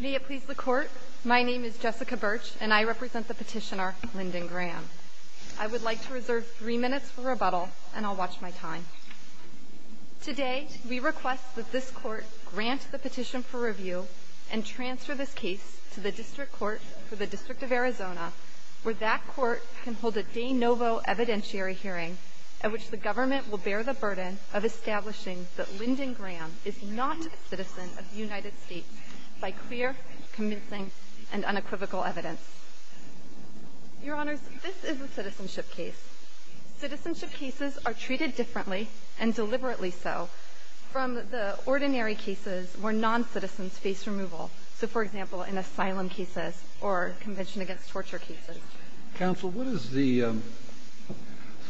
May it please the court, my name is Jessica Birch and I represent the petitioner Lyndon Graham. I would like to reserve three minutes for rebuttal and I'll watch my time. Today, we request that this court grant the petition for review and transfer this case to the District Court for the District of Arizona where that court can hold a de novo evidentiary hearing at which the government will bear the burden of establishing that Lyndon Graham is not a citizen of the United States by clear, convincing, and unequivocal evidence. Your Honors, this is a citizenship case. Citizenship cases are treated differently, and deliberately so, from the ordinary cases where non-citizens face removal. So, for example, in asylum cases or Convention Against Torture cases. Counsel, what is the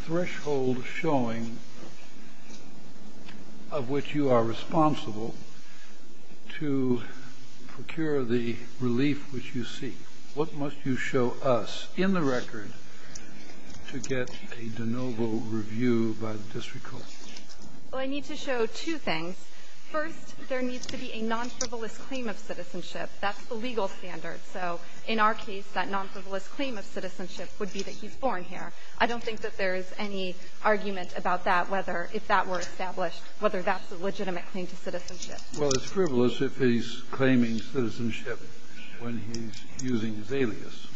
threshold showing of which you are responsible to procure the relief which you seek? What must you show us in the record to get a de novo review by the District Court? Well, I need to show two things. First, there needs to be a non-frivolous claim of citizenship. That's the legal standard. So in our case, that non-frivolous claim of citizenship would be that he's born here. I don't think that there is any argument about that, whether if that were established, whether that's a legitimate claim to citizenship. Well, it's frivolous if he's claiming citizenship when he's using his alias.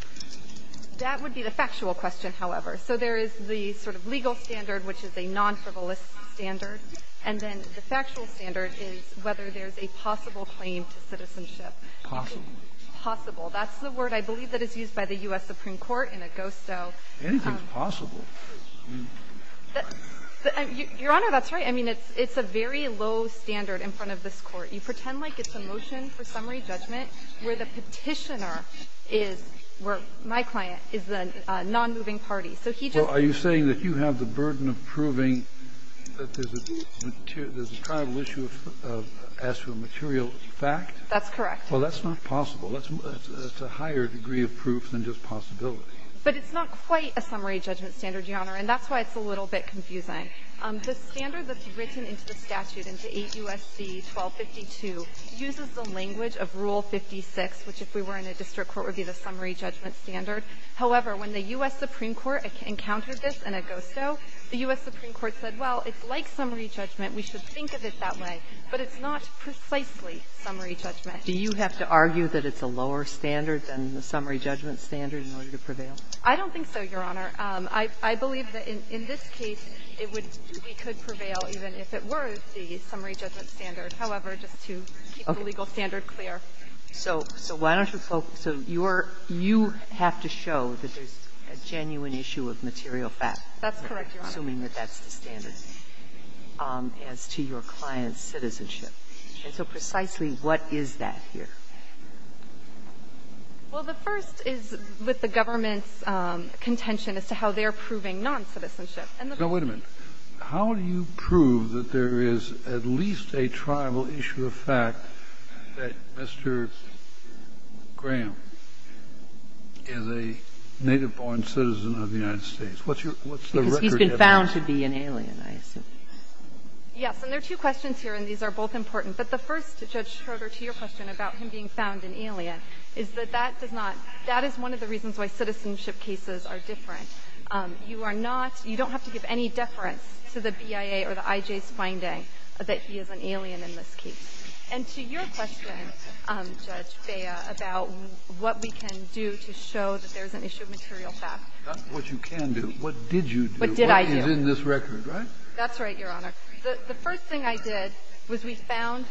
That would be the factual question, however. So there is the sort of legal standard, which is a non-frivolous standard. And then the factual standard is whether there's a possible claim to citizenship. Possible. Possible. That's the word, I believe, that is used by the U.S. Supreme Court in Augusto. Anything's possible. Your Honor, that's right. I mean, it's a very low standard in front of this Court. You pretend like it's a motion for summary judgment where the Petitioner is, where my client is the nonmoving party. So he just doesn't know. You're saying that there's a tribal issue as to a material fact? That's correct. Well, that's not possible. That's a higher degree of proof than just possibility. But it's not quite a summary judgment standard, Your Honor, and that's why it's a little bit confusing. The standard that's written into the statute, into 8 U.S.C. 1252, uses the language of Rule 56, which if we were in a district court would be the summary judgment standard. However, when the U.S. Supreme Court encountered this in Augusto, the U.S. Supreme Court said, well, it's like summary judgment, we should think of it that way. But it's not precisely summary judgment. Do you have to argue that it's a lower standard than the summary judgment standard in order to prevail? I don't think so, Your Honor. I believe that in this case, it would be could prevail even if it were the summary judgment standard. However, just to keep the legal standard clear. So why don't you focus so your you have to show that there's a genuine issue of material fact. That's correct, Your Honor. Assuming that that's the standard as to your client's citizenship. And so precisely what is that here? Well, the first is with the government's contention as to how they're proving noncitizenship. And the first is. Now, wait a minute. How do you prove that there is at least a tribal issue of fact that Mr. Graham is a native-born citizen of the United States? What's your record of that? Because he's been found to be an alien, I assume. Yes. And there are two questions here, and these are both important. But the first, Judge Schroeder, to your question about him being found an alien, is that that does not that is one of the reasons why citizenship cases are different. You are not you don't have to give any deference to the BIA or the IJ's finding that he is an alien in this case. And to your question, Judge Bea, about what we can do to show that there's an issue of material fact. Not what you can do. What did you do? What did I do? What is in this record, right? That's right, Your Honor. The first thing I did was we found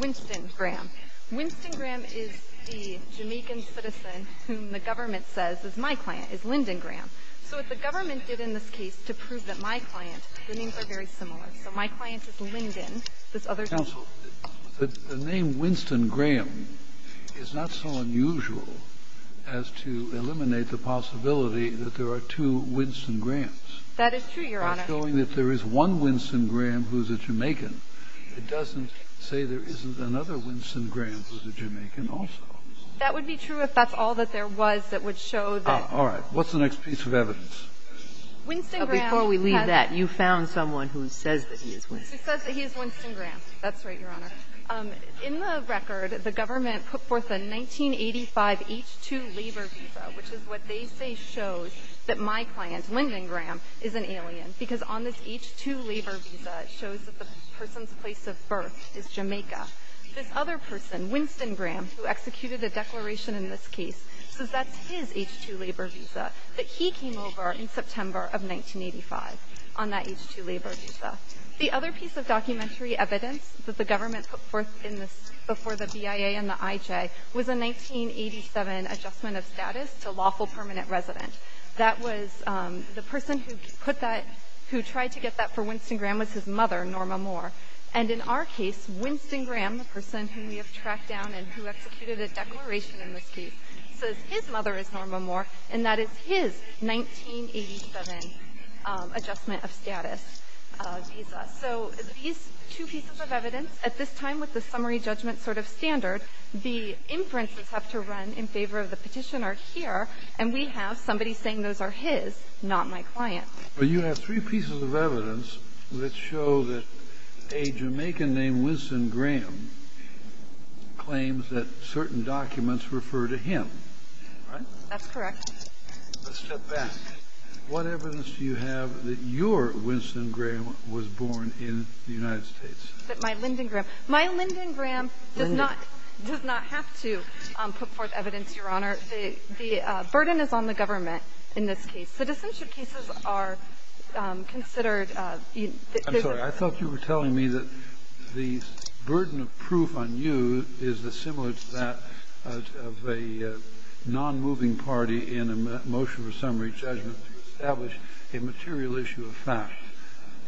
Winston Graham. Winston Graham is the Jamaican citizen whom the government says is my client, is Lyndon Graham. So what the government did in this case to prove that my client, the names are very similar. So my client is Lyndon. This other guy. Counsel, the name Winston Graham is not so unusual as to eliminate the possibility that there are two Winston Grahams. That is true, Your Honor. It's showing that there is one Winston Graham who's a Jamaican. It doesn't say there isn't another Winston Graham who's a Jamaican also. That would be true if that's all that there was that would show that. All right. What's the next piece of evidence? Before we leave that, you found someone who says that he is Winston. He says that he is Winston Graham. That's right, Your Honor. In the record, the government put forth a 1985 H-2 labor visa, which is what they say shows that my client, Lyndon Graham, is an alien, because on this H-2 labor visa, it shows that the person's place of birth is Jamaica. This other person, Winston Graham, who executed the declaration in this case, says that's his H-2 labor visa, that he came over in September of 1985 on that H-2 labor visa. The other piece of documentary evidence that the government put forth in this before the BIA and the IJ was a 1987 adjustment of status to lawful permanent resident. That was the person who tried to get that for Winston Graham was his mother, Norma Moore. And in our case, Winston Graham, the person whom we have tracked down and who says that his mother is Norma Moore and that it's his 1987 adjustment of status visa. So these two pieces of evidence, at this time with the summary judgment sort of standard, the inferences have to run in favor of the petitioner here, and we have somebody saying those are his, not my client. But you have three pieces of evidence that show that a Jamaican named Winston Graham claims that certain documents refer to him. Right? That's correct. Let's step back. What evidence do you have that your Winston Graham was born in the United States? That my Lyndon Graham. My Lyndon Graham does not have to put forth evidence, Your Honor. The burden is on the government in this case. Citizenship cases are considered. I'm sorry. I thought you were telling me that the burden of proof on you is the similar to that of a nonmoving party in a motion for summary judgment to establish a material issue of fact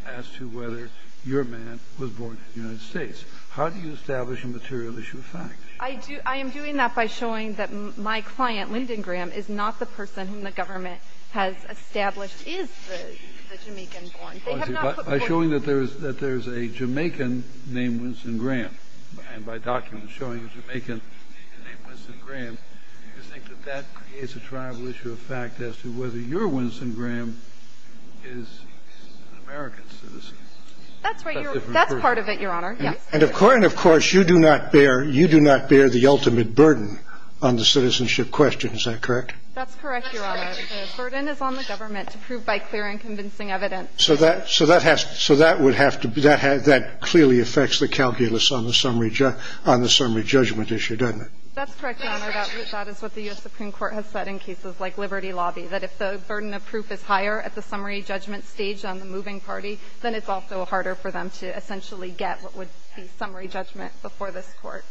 as to whether your man was born in the United States. How do you establish a material issue of fact? I do. I am doing that by showing that my client, Lyndon Graham, is not the person whom the government has established is the Jamaican born. By showing that there is a Jamaican named Winston Graham and by documents showing a Jamaican named Winston Graham, do you think that that creates a tribal issue of fact as to whether your Winston Graham is an American citizen? That's right. That's part of it, Your Honor. Yes. And, of course, you do not bear the ultimate burden on the citizenship question. Is that correct? That's correct, Your Honor. The burden is on the government to prove by clear and convincing evidence. So that would have to be that clearly affects the calculus on the summary judgment issue, doesn't it? That's correct, Your Honor. That is what the U.S. Supreme Court has said in cases like Liberty Lobby, that if the burden of proof is higher at the summary judgment stage on the moving party, then it's also harder for them to essentially get what would be summary judgment before this Court.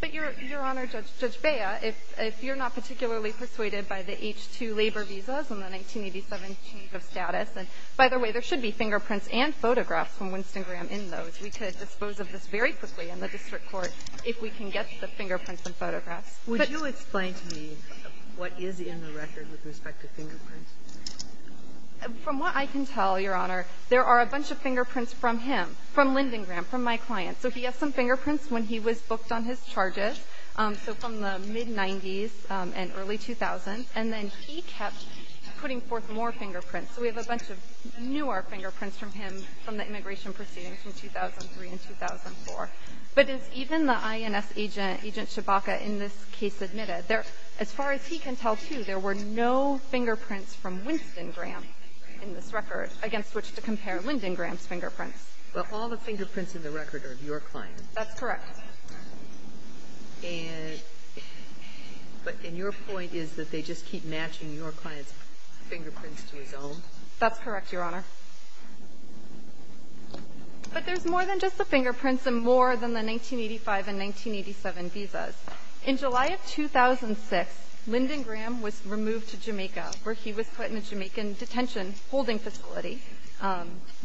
But, Your Honor, Judge Bea, if you're not particularly persuaded by the H-2 labor visas and the 1987 change of status, and, by the way, there should be fingerprints and photographs from Winston Graham in those. We could dispose of this very quickly in the district court if we can get the fingerprints and photographs. Would you explain to me what is in the record with respect to fingerprints? From what I can tell, Your Honor, there are a bunch of fingerprints from him, from Linden Graham, from my client. So he has some fingerprints when he was booked on his charges, so from the mid-'90s and early 2000s. And then he kept putting forth more fingerprints. So we have a bunch of newer fingerprints from him from the immigration proceedings from 2003 and 2004. But is even the INS agent, Agent Chewbacca, in this case admitted? As far as he can tell, too, there were no fingerprints from Winston Graham in this record against which to compare Linden Graham's fingerprints. But all the fingerprints in the record are of your client. That's correct. And your point is that they just keep matching your client's fingerprints to his own? That's correct, Your Honor. But there's more than just the fingerprints and more than the 1985 and 1987 visas. In July of 2006, Linden Graham was removed to Jamaica, where he was put in a Jamaican detention holding facility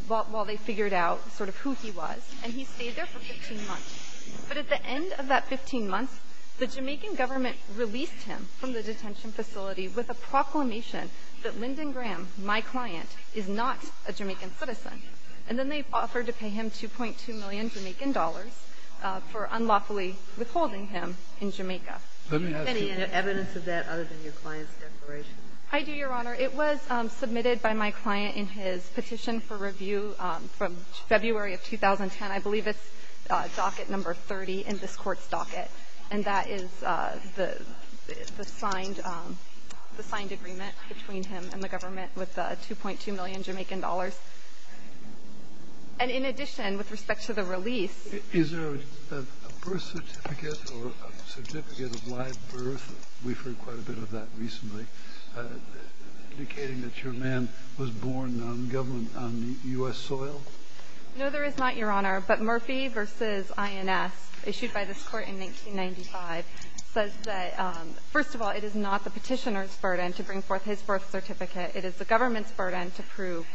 while they figured out sort of who he was. And he stayed there for 15 months. But at the end of that 15 months, the Jamaican government released him from the detention facility with a proclamation that Linden Graham, my client, is not a Jamaican citizen. And then they offered to pay him $2.2 million Jamaican for unlawfully withholding him in Jamaica. Any evidence of that other than your client's declaration? I do, Your Honor. It was submitted by my client in his petition for review from February of 2010. I believe it's docket number 30 in this Court's docket. And that is the signed agreement between him and the government with the $2.2 million Jamaican dollars. And in addition, with respect to the release. Is there a birth certificate or a certificate of live birth? We've heard quite a bit of that recently. Indicating that your man was born on government, on U.S. soil? No, there is not, Your Honor. But Murphy v. INS, issued by this Court in 1995, says that, first of all, it is not the petitioner's burden to bring forth his birth certificate. It is the government's burden to prove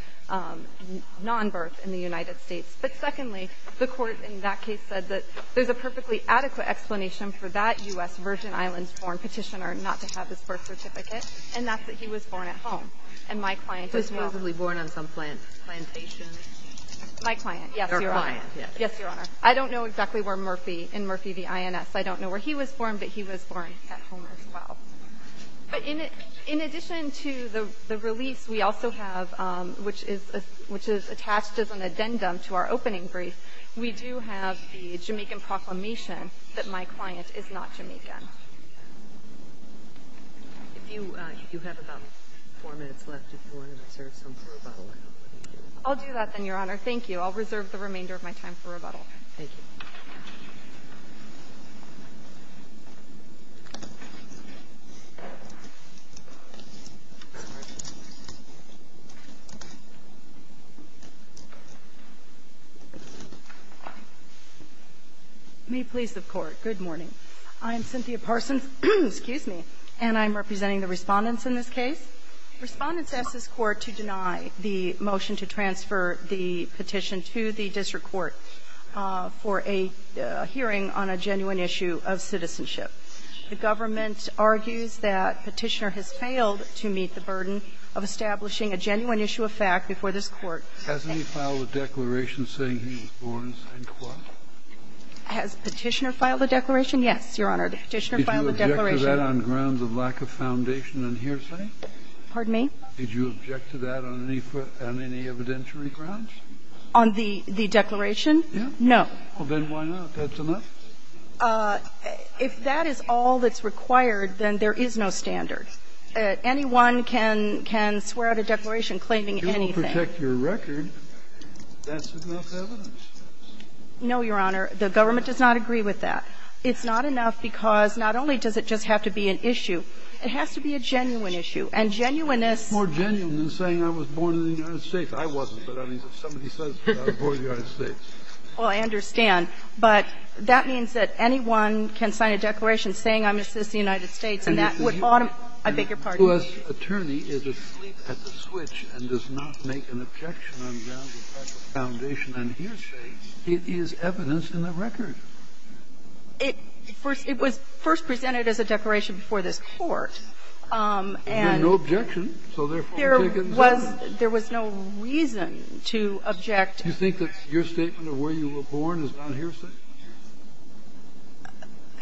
nonbirth in the United States. But secondly, the Court in that case said that there's a perfectly adequate explanation for that U.S. Virgin Islands-born petitioner not to have his birth certificate. And that's that he was born at home. And my client was not. He was supposedly born on some plantation? My client, yes, Your Honor. Your client, yes. Yes, Your Honor. I don't know exactly where Murphy, in Murphy v. INS. I don't know where he was born, but he was born at home as well. But in addition to the release, we also have, which is attached as an addendum to our opening brief, we do have the Jamaican proclamation that my client is not Jamaican. If you have about 4 minutes left, if you want to reserve some for rebuttal, I don't think you do. I'll do that, then, Your Honor. Thank you. I'll reserve the remainder of my time for rebuttal. Thank you. Parsons. May it please the Court. Good morning. I'm Cynthia Parsons. Excuse me. And I'm representing the Respondents in this case. Respondents ask this Court to deny the motion to transfer the petition to the district court for a hearing on a genuine issue of citizenship. The government argues that Petitioner has failed to meet the burden of establishing a genuine issue of fact before this Court. Has any filed a declaration saying he was born in St. Croix? Has Petitioner filed a declaration? Yes, Your Honor. Did Petitioner file a declaration? Did you object to that on grounds of lack of foundation and hearsay? Pardon me? Did you object to that on any evidentiary grounds? On the declaration? Yes. No. Well, then why not? That's enough? If that is all that's required, then there is no standard. Anyone can swear out a declaration claiming anything. If it doesn't protect your record, that's enough evidence. No, Your Honor. The government does not agree with that. It's not enough because not only does it just have to be an issue, it has to be a genuine issue. And genuineness --- It's more genuine than saying I was born in the United States. I wasn't, but I mean, if somebody says I was born in the United States. Well, I understand. But that means that anyone can sign a declaration saying I'm a citizen of the United States, and that would automatically ---- I beg your pardon. If a U.S. attorney is asleep at the switch and does not make an objection on grounds of fact of foundation and hearsay, it is evidence in the record. It was first presented as a declaration before this Court, and ---- There's no objection. So therefore ---- There was no reason to object. Do you think that your statement of where you were born is not hearsay?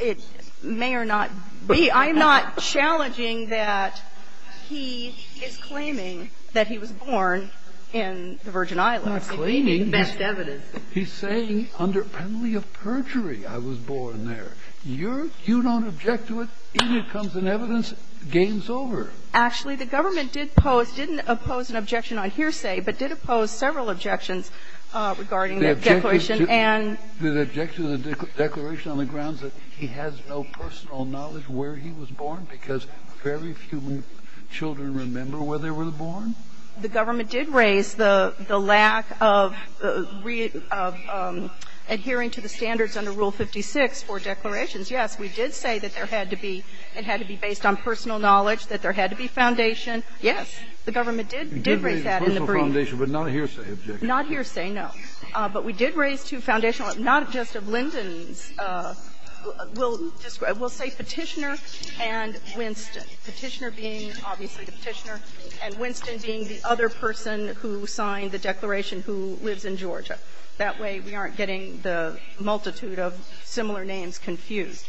It may or not be. I'm not challenging that he is claiming that he was born in the Virgin Islands. Not claiming. Best evidence. He's saying under penalty of perjury I was born there. You don't object to it, in it comes an evidence, game's over. Actually, the government did pose, didn't oppose an objection on hearsay, but did oppose several objections regarding the declaration and ---- He was born because very few children remember where they were born? The government did raise the lack of adhering to the standards under Rule 56 for declarations. Yes, we did say that there had to be ---- it had to be based on personal knowledge, that there had to be foundation. Yes, the government did raise that in the brief. Personal foundation, but not a hearsay objection. Not hearsay, no. But we did raise two foundational ---- not just of Lyndon's. We'll say Petitioner and Winston. Petitioner being, obviously, the Petitioner, and Winston being the other person who signed the declaration who lives in Georgia. That way we aren't getting the multitude of similar names confused.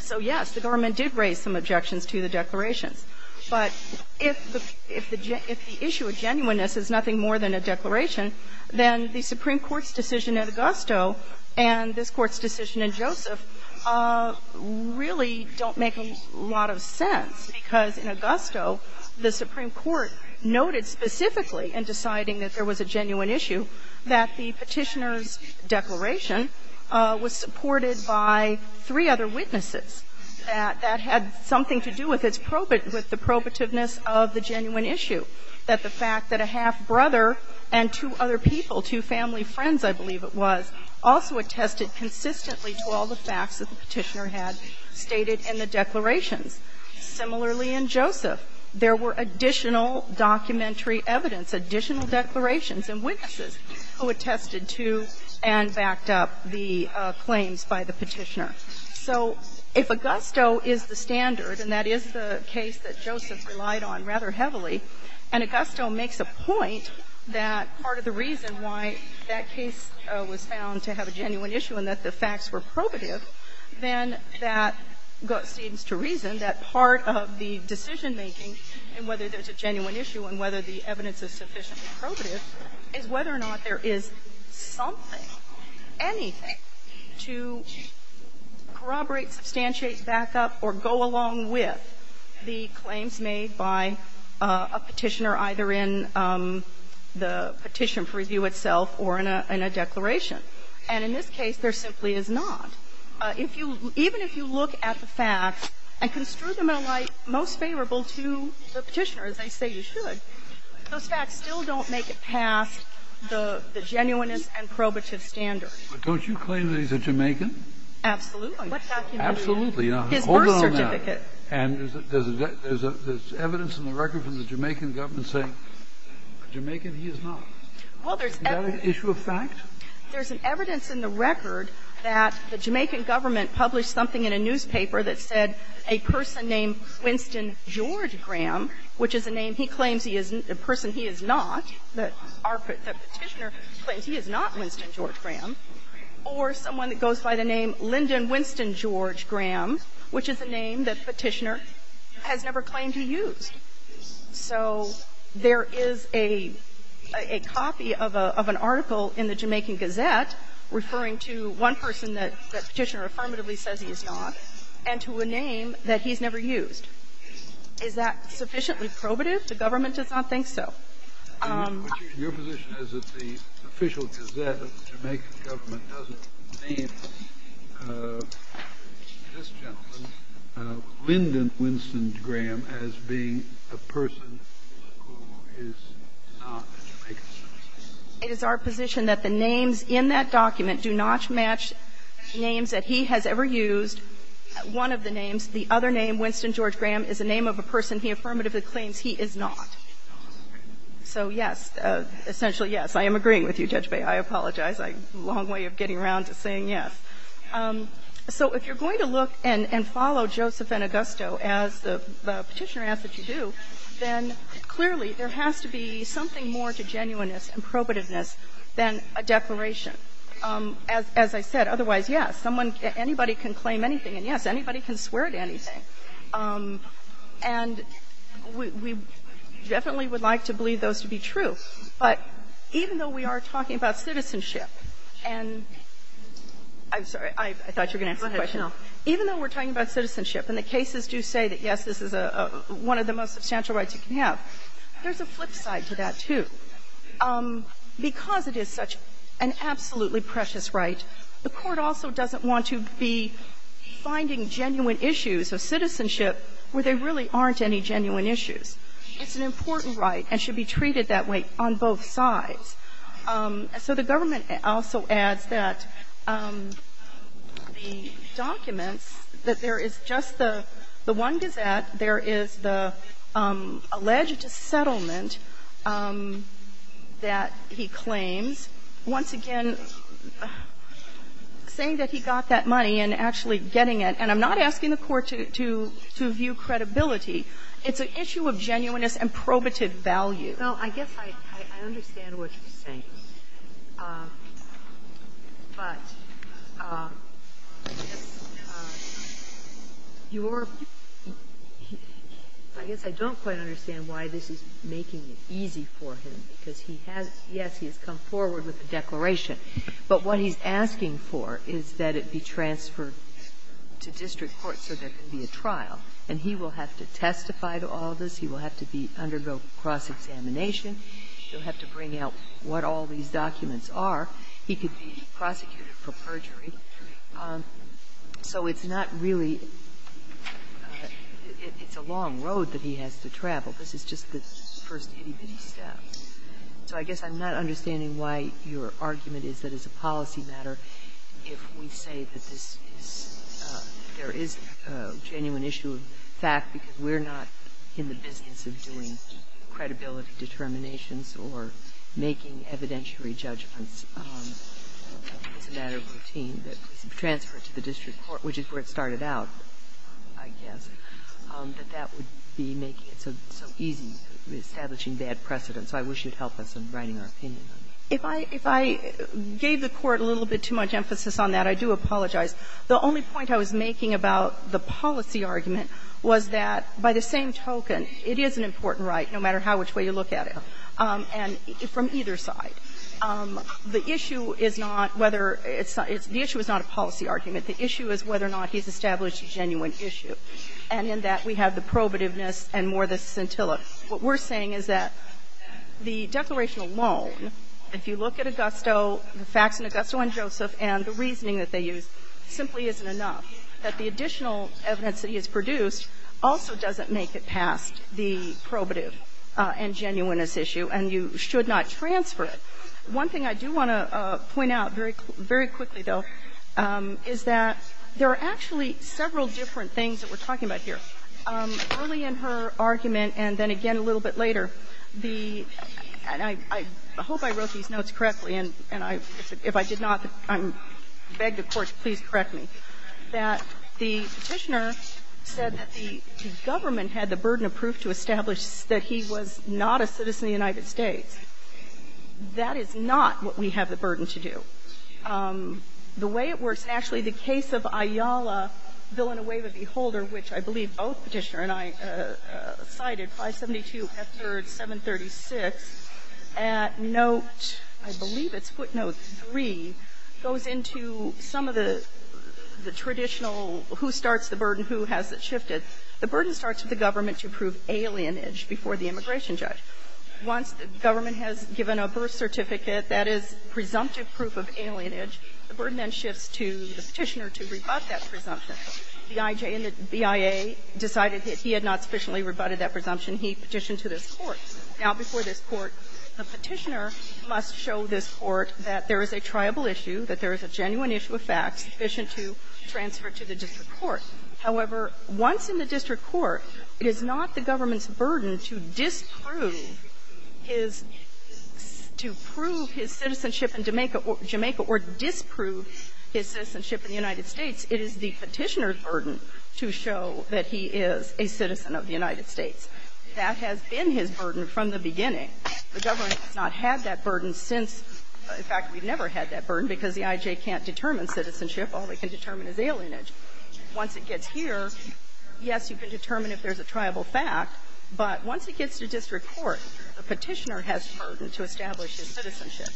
So, yes, the government did raise some objections to the declarations. But if the issue of genuineness is nothing more than a declaration, then the Supreme Court's decision in Joseph really don't make a lot of sense, because in Augusto, the Supreme Court noted specifically in deciding that there was a genuine issue that the Petitioner's declaration was supported by three other witnesses that had something to do with its probate ---- with the probativeness of the genuine issue, that the fact that a half-brother and two other people, two family friends I believe it was, also attested consistently to all the facts that the Petitioner had stated in the declarations. Similarly in Joseph, there were additional documentary evidence, additional declarations and witnesses who attested to and backed up the claims by the Petitioner. So if Augusto is the standard, and that is the case that Joseph relied on rather heavily, and Augusto makes a point that part of the reason why that case was found to have a genuine issue and that the facts were probative, then that seems to reason that part of the decision-making in whether there's a genuine issue and whether the evidence is sufficiently probative is whether or not there is something, anything, to corroborate, substantiate, back up or go along with the claims made by a Petitioner either in the Petition for review itself or in a declaration. And in this case, there simply is not. If you ---- even if you look at the facts and construe them in a way most favorable to the Petitioner, as they say you should, those facts still don't make it past the genuineness and probative standard. But don't you claim that he's a Jamaican? Absolutely. Absolutely. His birth certificate. And there's evidence in the record from the Jamaican government saying a Jamaican, he is not. Well, there's evidence. Is that an issue of fact? There's evidence in the record that the Jamaican government published something in a newspaper that said a person named Winston George Graham, which is a name he claims he is not, a person he is not, that Petitioner claims he is not Winston George Graham, or someone that goes by the name Lyndon Winston George Graham, which is a name that Petitioner has never claimed he used. So there is a copy of an article in the Jamaican Gazette referring to one person that Petitioner affirmatively says he is not and to a name that he's never used. Is that sufficiently probative? The government does not think so. Your position is that the official Gazette of the Jamaican government doesn't name this gentleman, Lyndon Winston Graham, as being a person who is not a Jamaican? It is our position that the names in that document do not match names that he has ever used. One of the names, the other name, Winston George Graham, is a name of a person he affirmatively claims he is not. So, yes, essentially, yes. I am agreeing with you, Judge Baye. I apologize. I'm a long way of getting around to saying yes. So if you're going to look and follow Joseph and Augusto, as the Petitioner asks that you do, then clearly there has to be something more to genuineness and probativeness than a declaration. As I said, otherwise, yes, someone, anybody can claim anything. And, yes, anybody can swear to anything. And we definitely would like to believe those to be true. But even though we are talking about citizenship, and I'm sorry, I thought you were going to ask a question. Even though we're talking about citizenship, and the cases do say that, yes, this is one of the most substantial rights you can have, there's a flip side to that, too. Because it is such an absolutely precious right, the Court also doesn't want to be where there really aren't any genuine issues. It's an important right and should be treated that way on both sides. So the government also adds that the documents that there is just the one gazette, there is the alleged settlement that he claims, once again, saying that he got that to view credibility. It's an issue of genuineness and probative value. Well, I guess I understand what you're saying. But your – I guess I don't quite understand why this is making it easy for him, because he has – yes, he has come forward with a declaration. But what he's asking for is that it be transferred to district court so there can be a trial, and he will have to testify to all this. He will have to undergo cross-examination. He'll have to bring out what all these documents are. He could be prosecuted for perjury. So it's not really – it's a long road that he has to travel. This is just the first itty-bitty step. So I guess I'm not understanding why your argument is that as a policy matter, if we say that this is – there is a genuine issue of fact because we're not in the business of doing credibility determinations or making evidentiary judgments as a matter of routine, that it be transferred to the district court, which is where it started out, I guess, that that would be making it so easy, reestablishing bad precedent. So I wish you'd help us in writing our opinion. If I – if I gave the Court a little bit too much emphasis on that, I do apologize. The only point I was making about the policy argument was that, by the same token, it is an important right, no matter how much way you look at it, and from either side. The issue is not whether it's – the issue is not a policy argument. The issue is whether or not he's established a genuine issue. And in that, we have the probativeness and more the scintilla. What we're saying is that the declaration alone, if you look at Augusto, the facts in Augusto and Joseph, and the reasoning that they use, simply isn't enough, that the additional evidence that he has produced also doesn't make it past the probative and genuineness issue, and you should not transfer it. One thing I do want to point out very – very quickly, though, is that there are actually several different things that we're talking about here. Early in her argument, and then again a little bit later, the – and I hope I wrote these notes correctly, and I – if I did not, I beg the Court to please correct me – that the Petitioner said that the government had the burden of proof to establish that he was not a citizen of the United States. That is not what we have the burden to do. The way it works, and actually the case of Ayala, Bill in a Wave of Beholder, which I believe both Petitioner and I cited, 572 F. 3rd, 736, at note – I believe it's footnote 3 – goes into some of the traditional who starts the burden, who has it shifted. The burden starts with the government to prove alienage before the immigration judge. Once the government has given a birth certificate that is presumptive proof of alienage, the burden then shifts to the Petitioner to rebut that presumption. The IJ and the BIA decided that he had not sufficiently rebutted that presumption. He petitioned to this Court. Now, before this Court, the Petitioner must show this Court that there is a triable issue, that there is a genuine issue of facts sufficient to transfer to the district court. However, once in the district court, it is not the government's burden to disprove his – to prove his citizenship in Jamaica or disprove his citizenship in the United States. It is the Petitioner's burden to show that he is a citizen of the United States. That has been his burden from the beginning. The government has not had that burden since – in fact, we've never had that burden because the IJ can't determine citizenship. All they can determine is alienage. Once it gets here, yes, you can determine if there's a triable fact. But once it gets to district court, the Petitioner has the burden to establish his citizenship.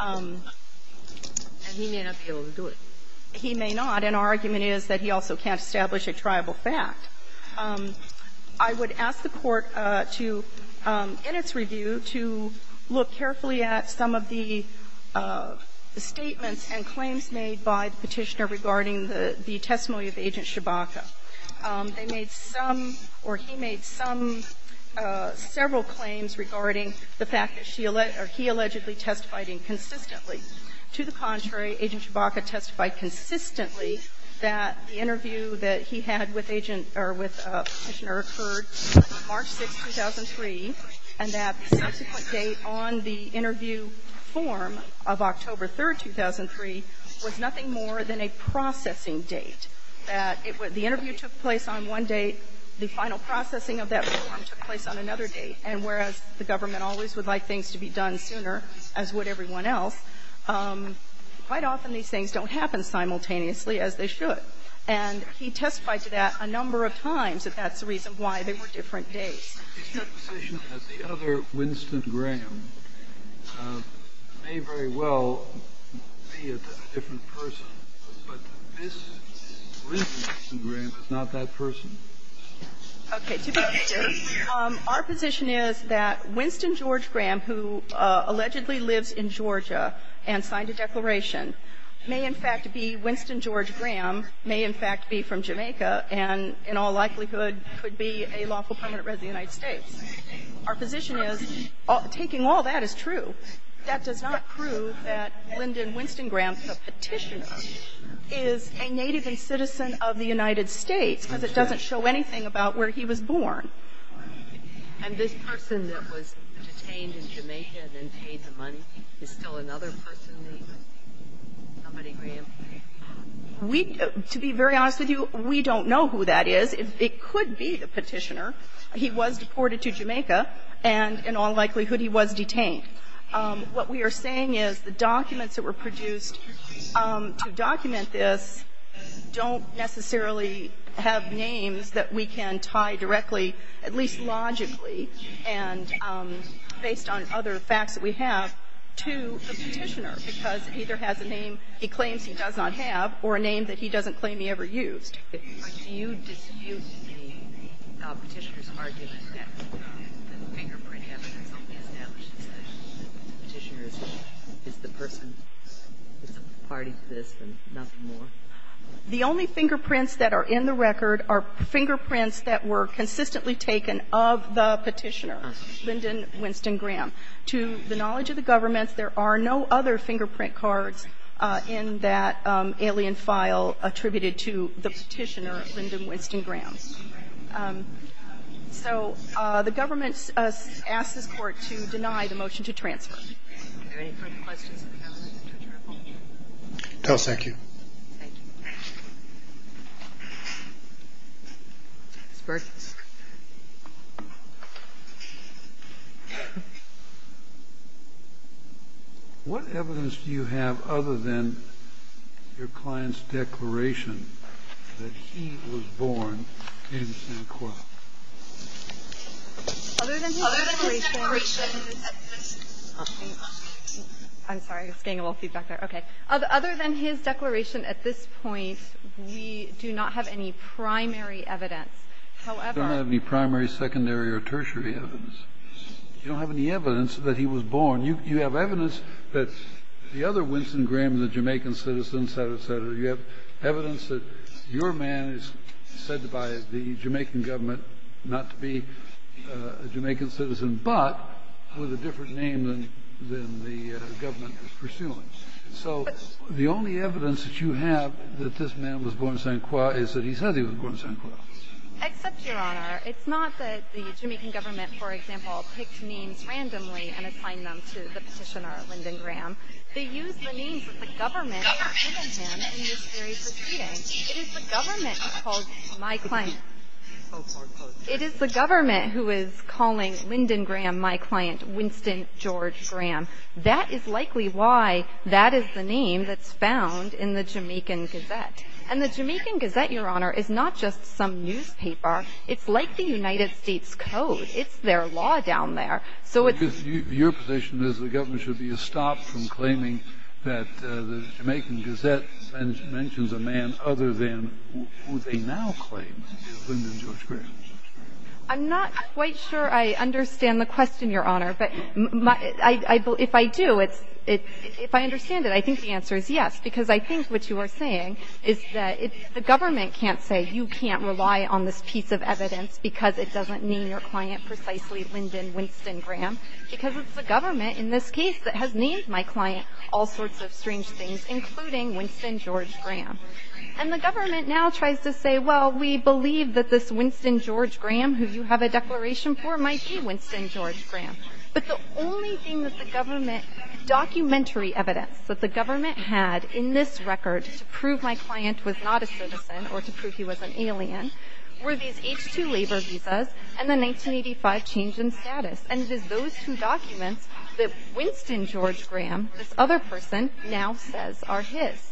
And he may not be able to do it. He may not. And our argument is that he also can't establish a triable fact. I would ask the Court to, in its review, to look carefully at some of the statements and claims made by the Petitioner regarding the testimony of Agent Chebaka. They made some, or he made some, several claims regarding the fact that she – or he allegedly testified inconsistently. To the contrary, Agent Chebaka testified consistently that the interview that he had with Agent – or with the Petitioner occurred March 6, 2003, and that the subsequent date on the interview form of October 3, 2003, was nothing more than a processing date, that it was – the interview took place on one date, the final processing of that form took place on another date, and whereas the government always would like things to be done sooner, as would everyone else, quite often these things don't happen simultaneously as they should. And he testified to that a number of times, that that's the reason why they were different dates. Kennedy, is your position that the other Winston Graham may very well be a different person, but this Winston Graham is not that person? Okay. To be clear, our position is that Winston George Graham, who allegedly lives in Georgia and signed a declaration, may, in fact, be Winston George Graham, may, in fact, be from Jamaica, and in all likelihood could be a lawful permanent resident of the United States. Our position is taking all that is true. That does not prove that Lyndon Winston Graham, the Petitioner, is a native and citizen of the United States, because it doesn't show anything about where he was born. And this person that was detained in Jamaica and then paid the money is still another person that he was? Somebody Graham? We, to be very honest with you, we don't know who that is. It could be the Petitioner. He was deported to Jamaica, and in all likelihood he was detained. What we are saying is the documents that were produced to document this don't necessarily have names that we can tie directly, at least logically, and based on other facts that we have, to the Petitioner, because it either has a name he claims he does not have or a name that he doesn't claim he ever used. Do you dispute the Petitioner's argument that the fingerprint evidence only establishes that the Petitioner is the person that's a party to this and nothing more? The only fingerprints that are in the record are fingerprints that were consistently taken of the Petitioner, Lyndon Winston Graham. To the knowledge of the government, there are no other fingerprint cards in that alien file attributed to the Petitioner, Lyndon Winston Graham. So the government asks this Court to deny the motion to transfer. Do you have any further questions? No. Thank you. Ms. Burton. What evidence do you have other than your client's declaration that he was born in San Juan? Other than his declaration? I'm sorry. I was getting a little feedback there. Okay. Other than his declaration at this point, we do not have any primary evidence. However ---- You don't have any primary, secondary, or tertiary evidence. You don't have any evidence that he was born. You have evidence that the other Winston Graham, the Jamaican citizen, et cetera, et cetera. You have evidence that your man is said by the Jamaican government not to be a Jamaican citizen, but with a different name than the government is pursuing. So the only evidence that you have that this man was born in San Juan is that he's said he was born in San Juan. Except, Your Honor, it's not that the Jamaican government, for example, picked names randomly and assigned them to the Petitioner, Lyndon Graham. They used the names that the government had given them in this very proceeding. It is the government called my client. It is the government who is calling Lyndon Graham my client, Winston George Graham. That is likely why that is the name that's found in the Jamaican Gazette. And the Jamaican Gazette, Your Honor, is not just some newspaper. It's like the United States Code. It's their law down there. So it's ---- Your position is the government should be stopped from claiming that the Jamaican I'm not quite sure I understand the question, Your Honor. But if I do, if I understand it, I think the answer is yes. Because I think what you are saying is that the government can't say, you can't rely on this piece of evidence because it doesn't name your client precisely Lyndon Winston Graham. Because it's the government in this case that has named my client all sorts of strange things, including Winston George Graham. And the government now tries to say, well, we believe that this Winston George Graham who you have a declaration for might be Winston George Graham. But the only thing that the government documentary evidence that the government had in this record to prove my client was not a citizen or to prove he was an alien were these H-2 labor visas and the 1985 change in status. And it is those two documents that Winston George Graham, this other person, now says are his.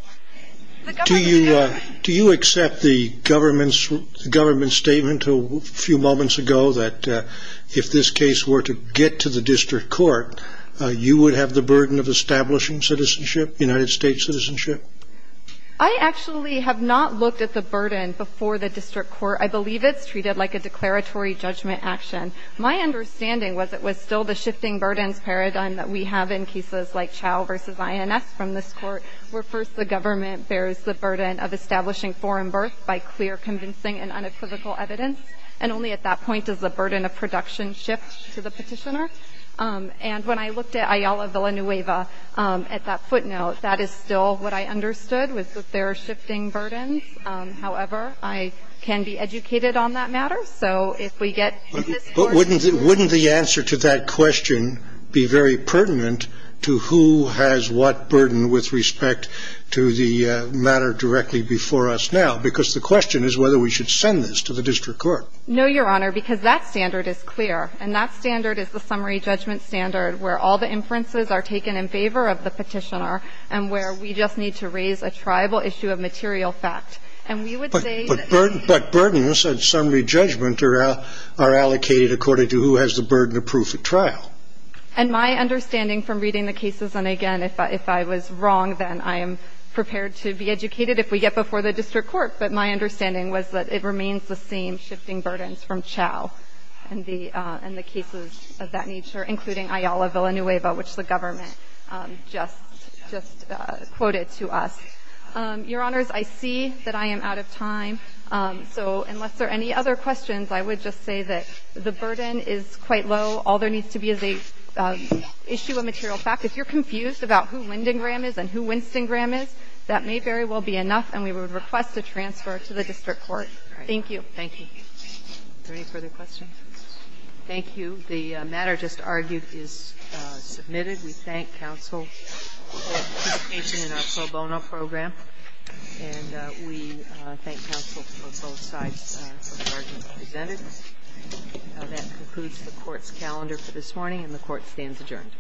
Do you accept the government's statement a few moments ago that if this case were to get to the district court, you would have the burden of establishing citizenship, United States citizenship? I actually have not looked at the burden before the district court. I believe it's treated like a declaratory judgment action. My understanding was it was still the shifting burdens paradigm that we have in cases like Chau v. INS from this court where first the government bears the burden of establishing foreign birth by clear convincing and unequivocal evidence. And only at that point does the burden of production shift to the petitioner. And when I looked at Ayala Villanueva at that footnote, that is still what I understood was that there are shifting burdens. However, I can be educated on that matter. So if we get in this court to the district court. But wouldn't the answer to that question be very pertinent to who has what burden with respect to the matter directly before us now? Because the question is whether we should send this to the district court. No, Your Honor, because that standard is clear. And that standard is the summary judgment standard where all the inferences are taken in favor of the petitioner and where we just need to raise a tribal issue of material fact. But burdens and summary judgment are allocated according to who has the burden of proof at trial. And my understanding from reading the cases, and again, if I was wrong, then I am prepared to be educated if we get before the district court. But my understanding was that it remains the same shifting burdens from Chau and the cases of that nature, including Ayala Villanueva, which the government just quoted to us. Your Honors, I see that I am out of time. So unless there are any other questions, I would just say that the burden is quite low. All there needs to be is an issue of material fact. If you're confused about who Lyndon Graham is and who Winston Graham is, that may very well be enough. And we would request a transfer to the district court. Thank you. Thank you. Are there any further questions? Thank you. The matter just argued is submitted. We thank counsel for participation in our pro bono program. And we thank counsel for both sides for the argument presented. That concludes the court's calendar for this morning, and the court stands adjourned.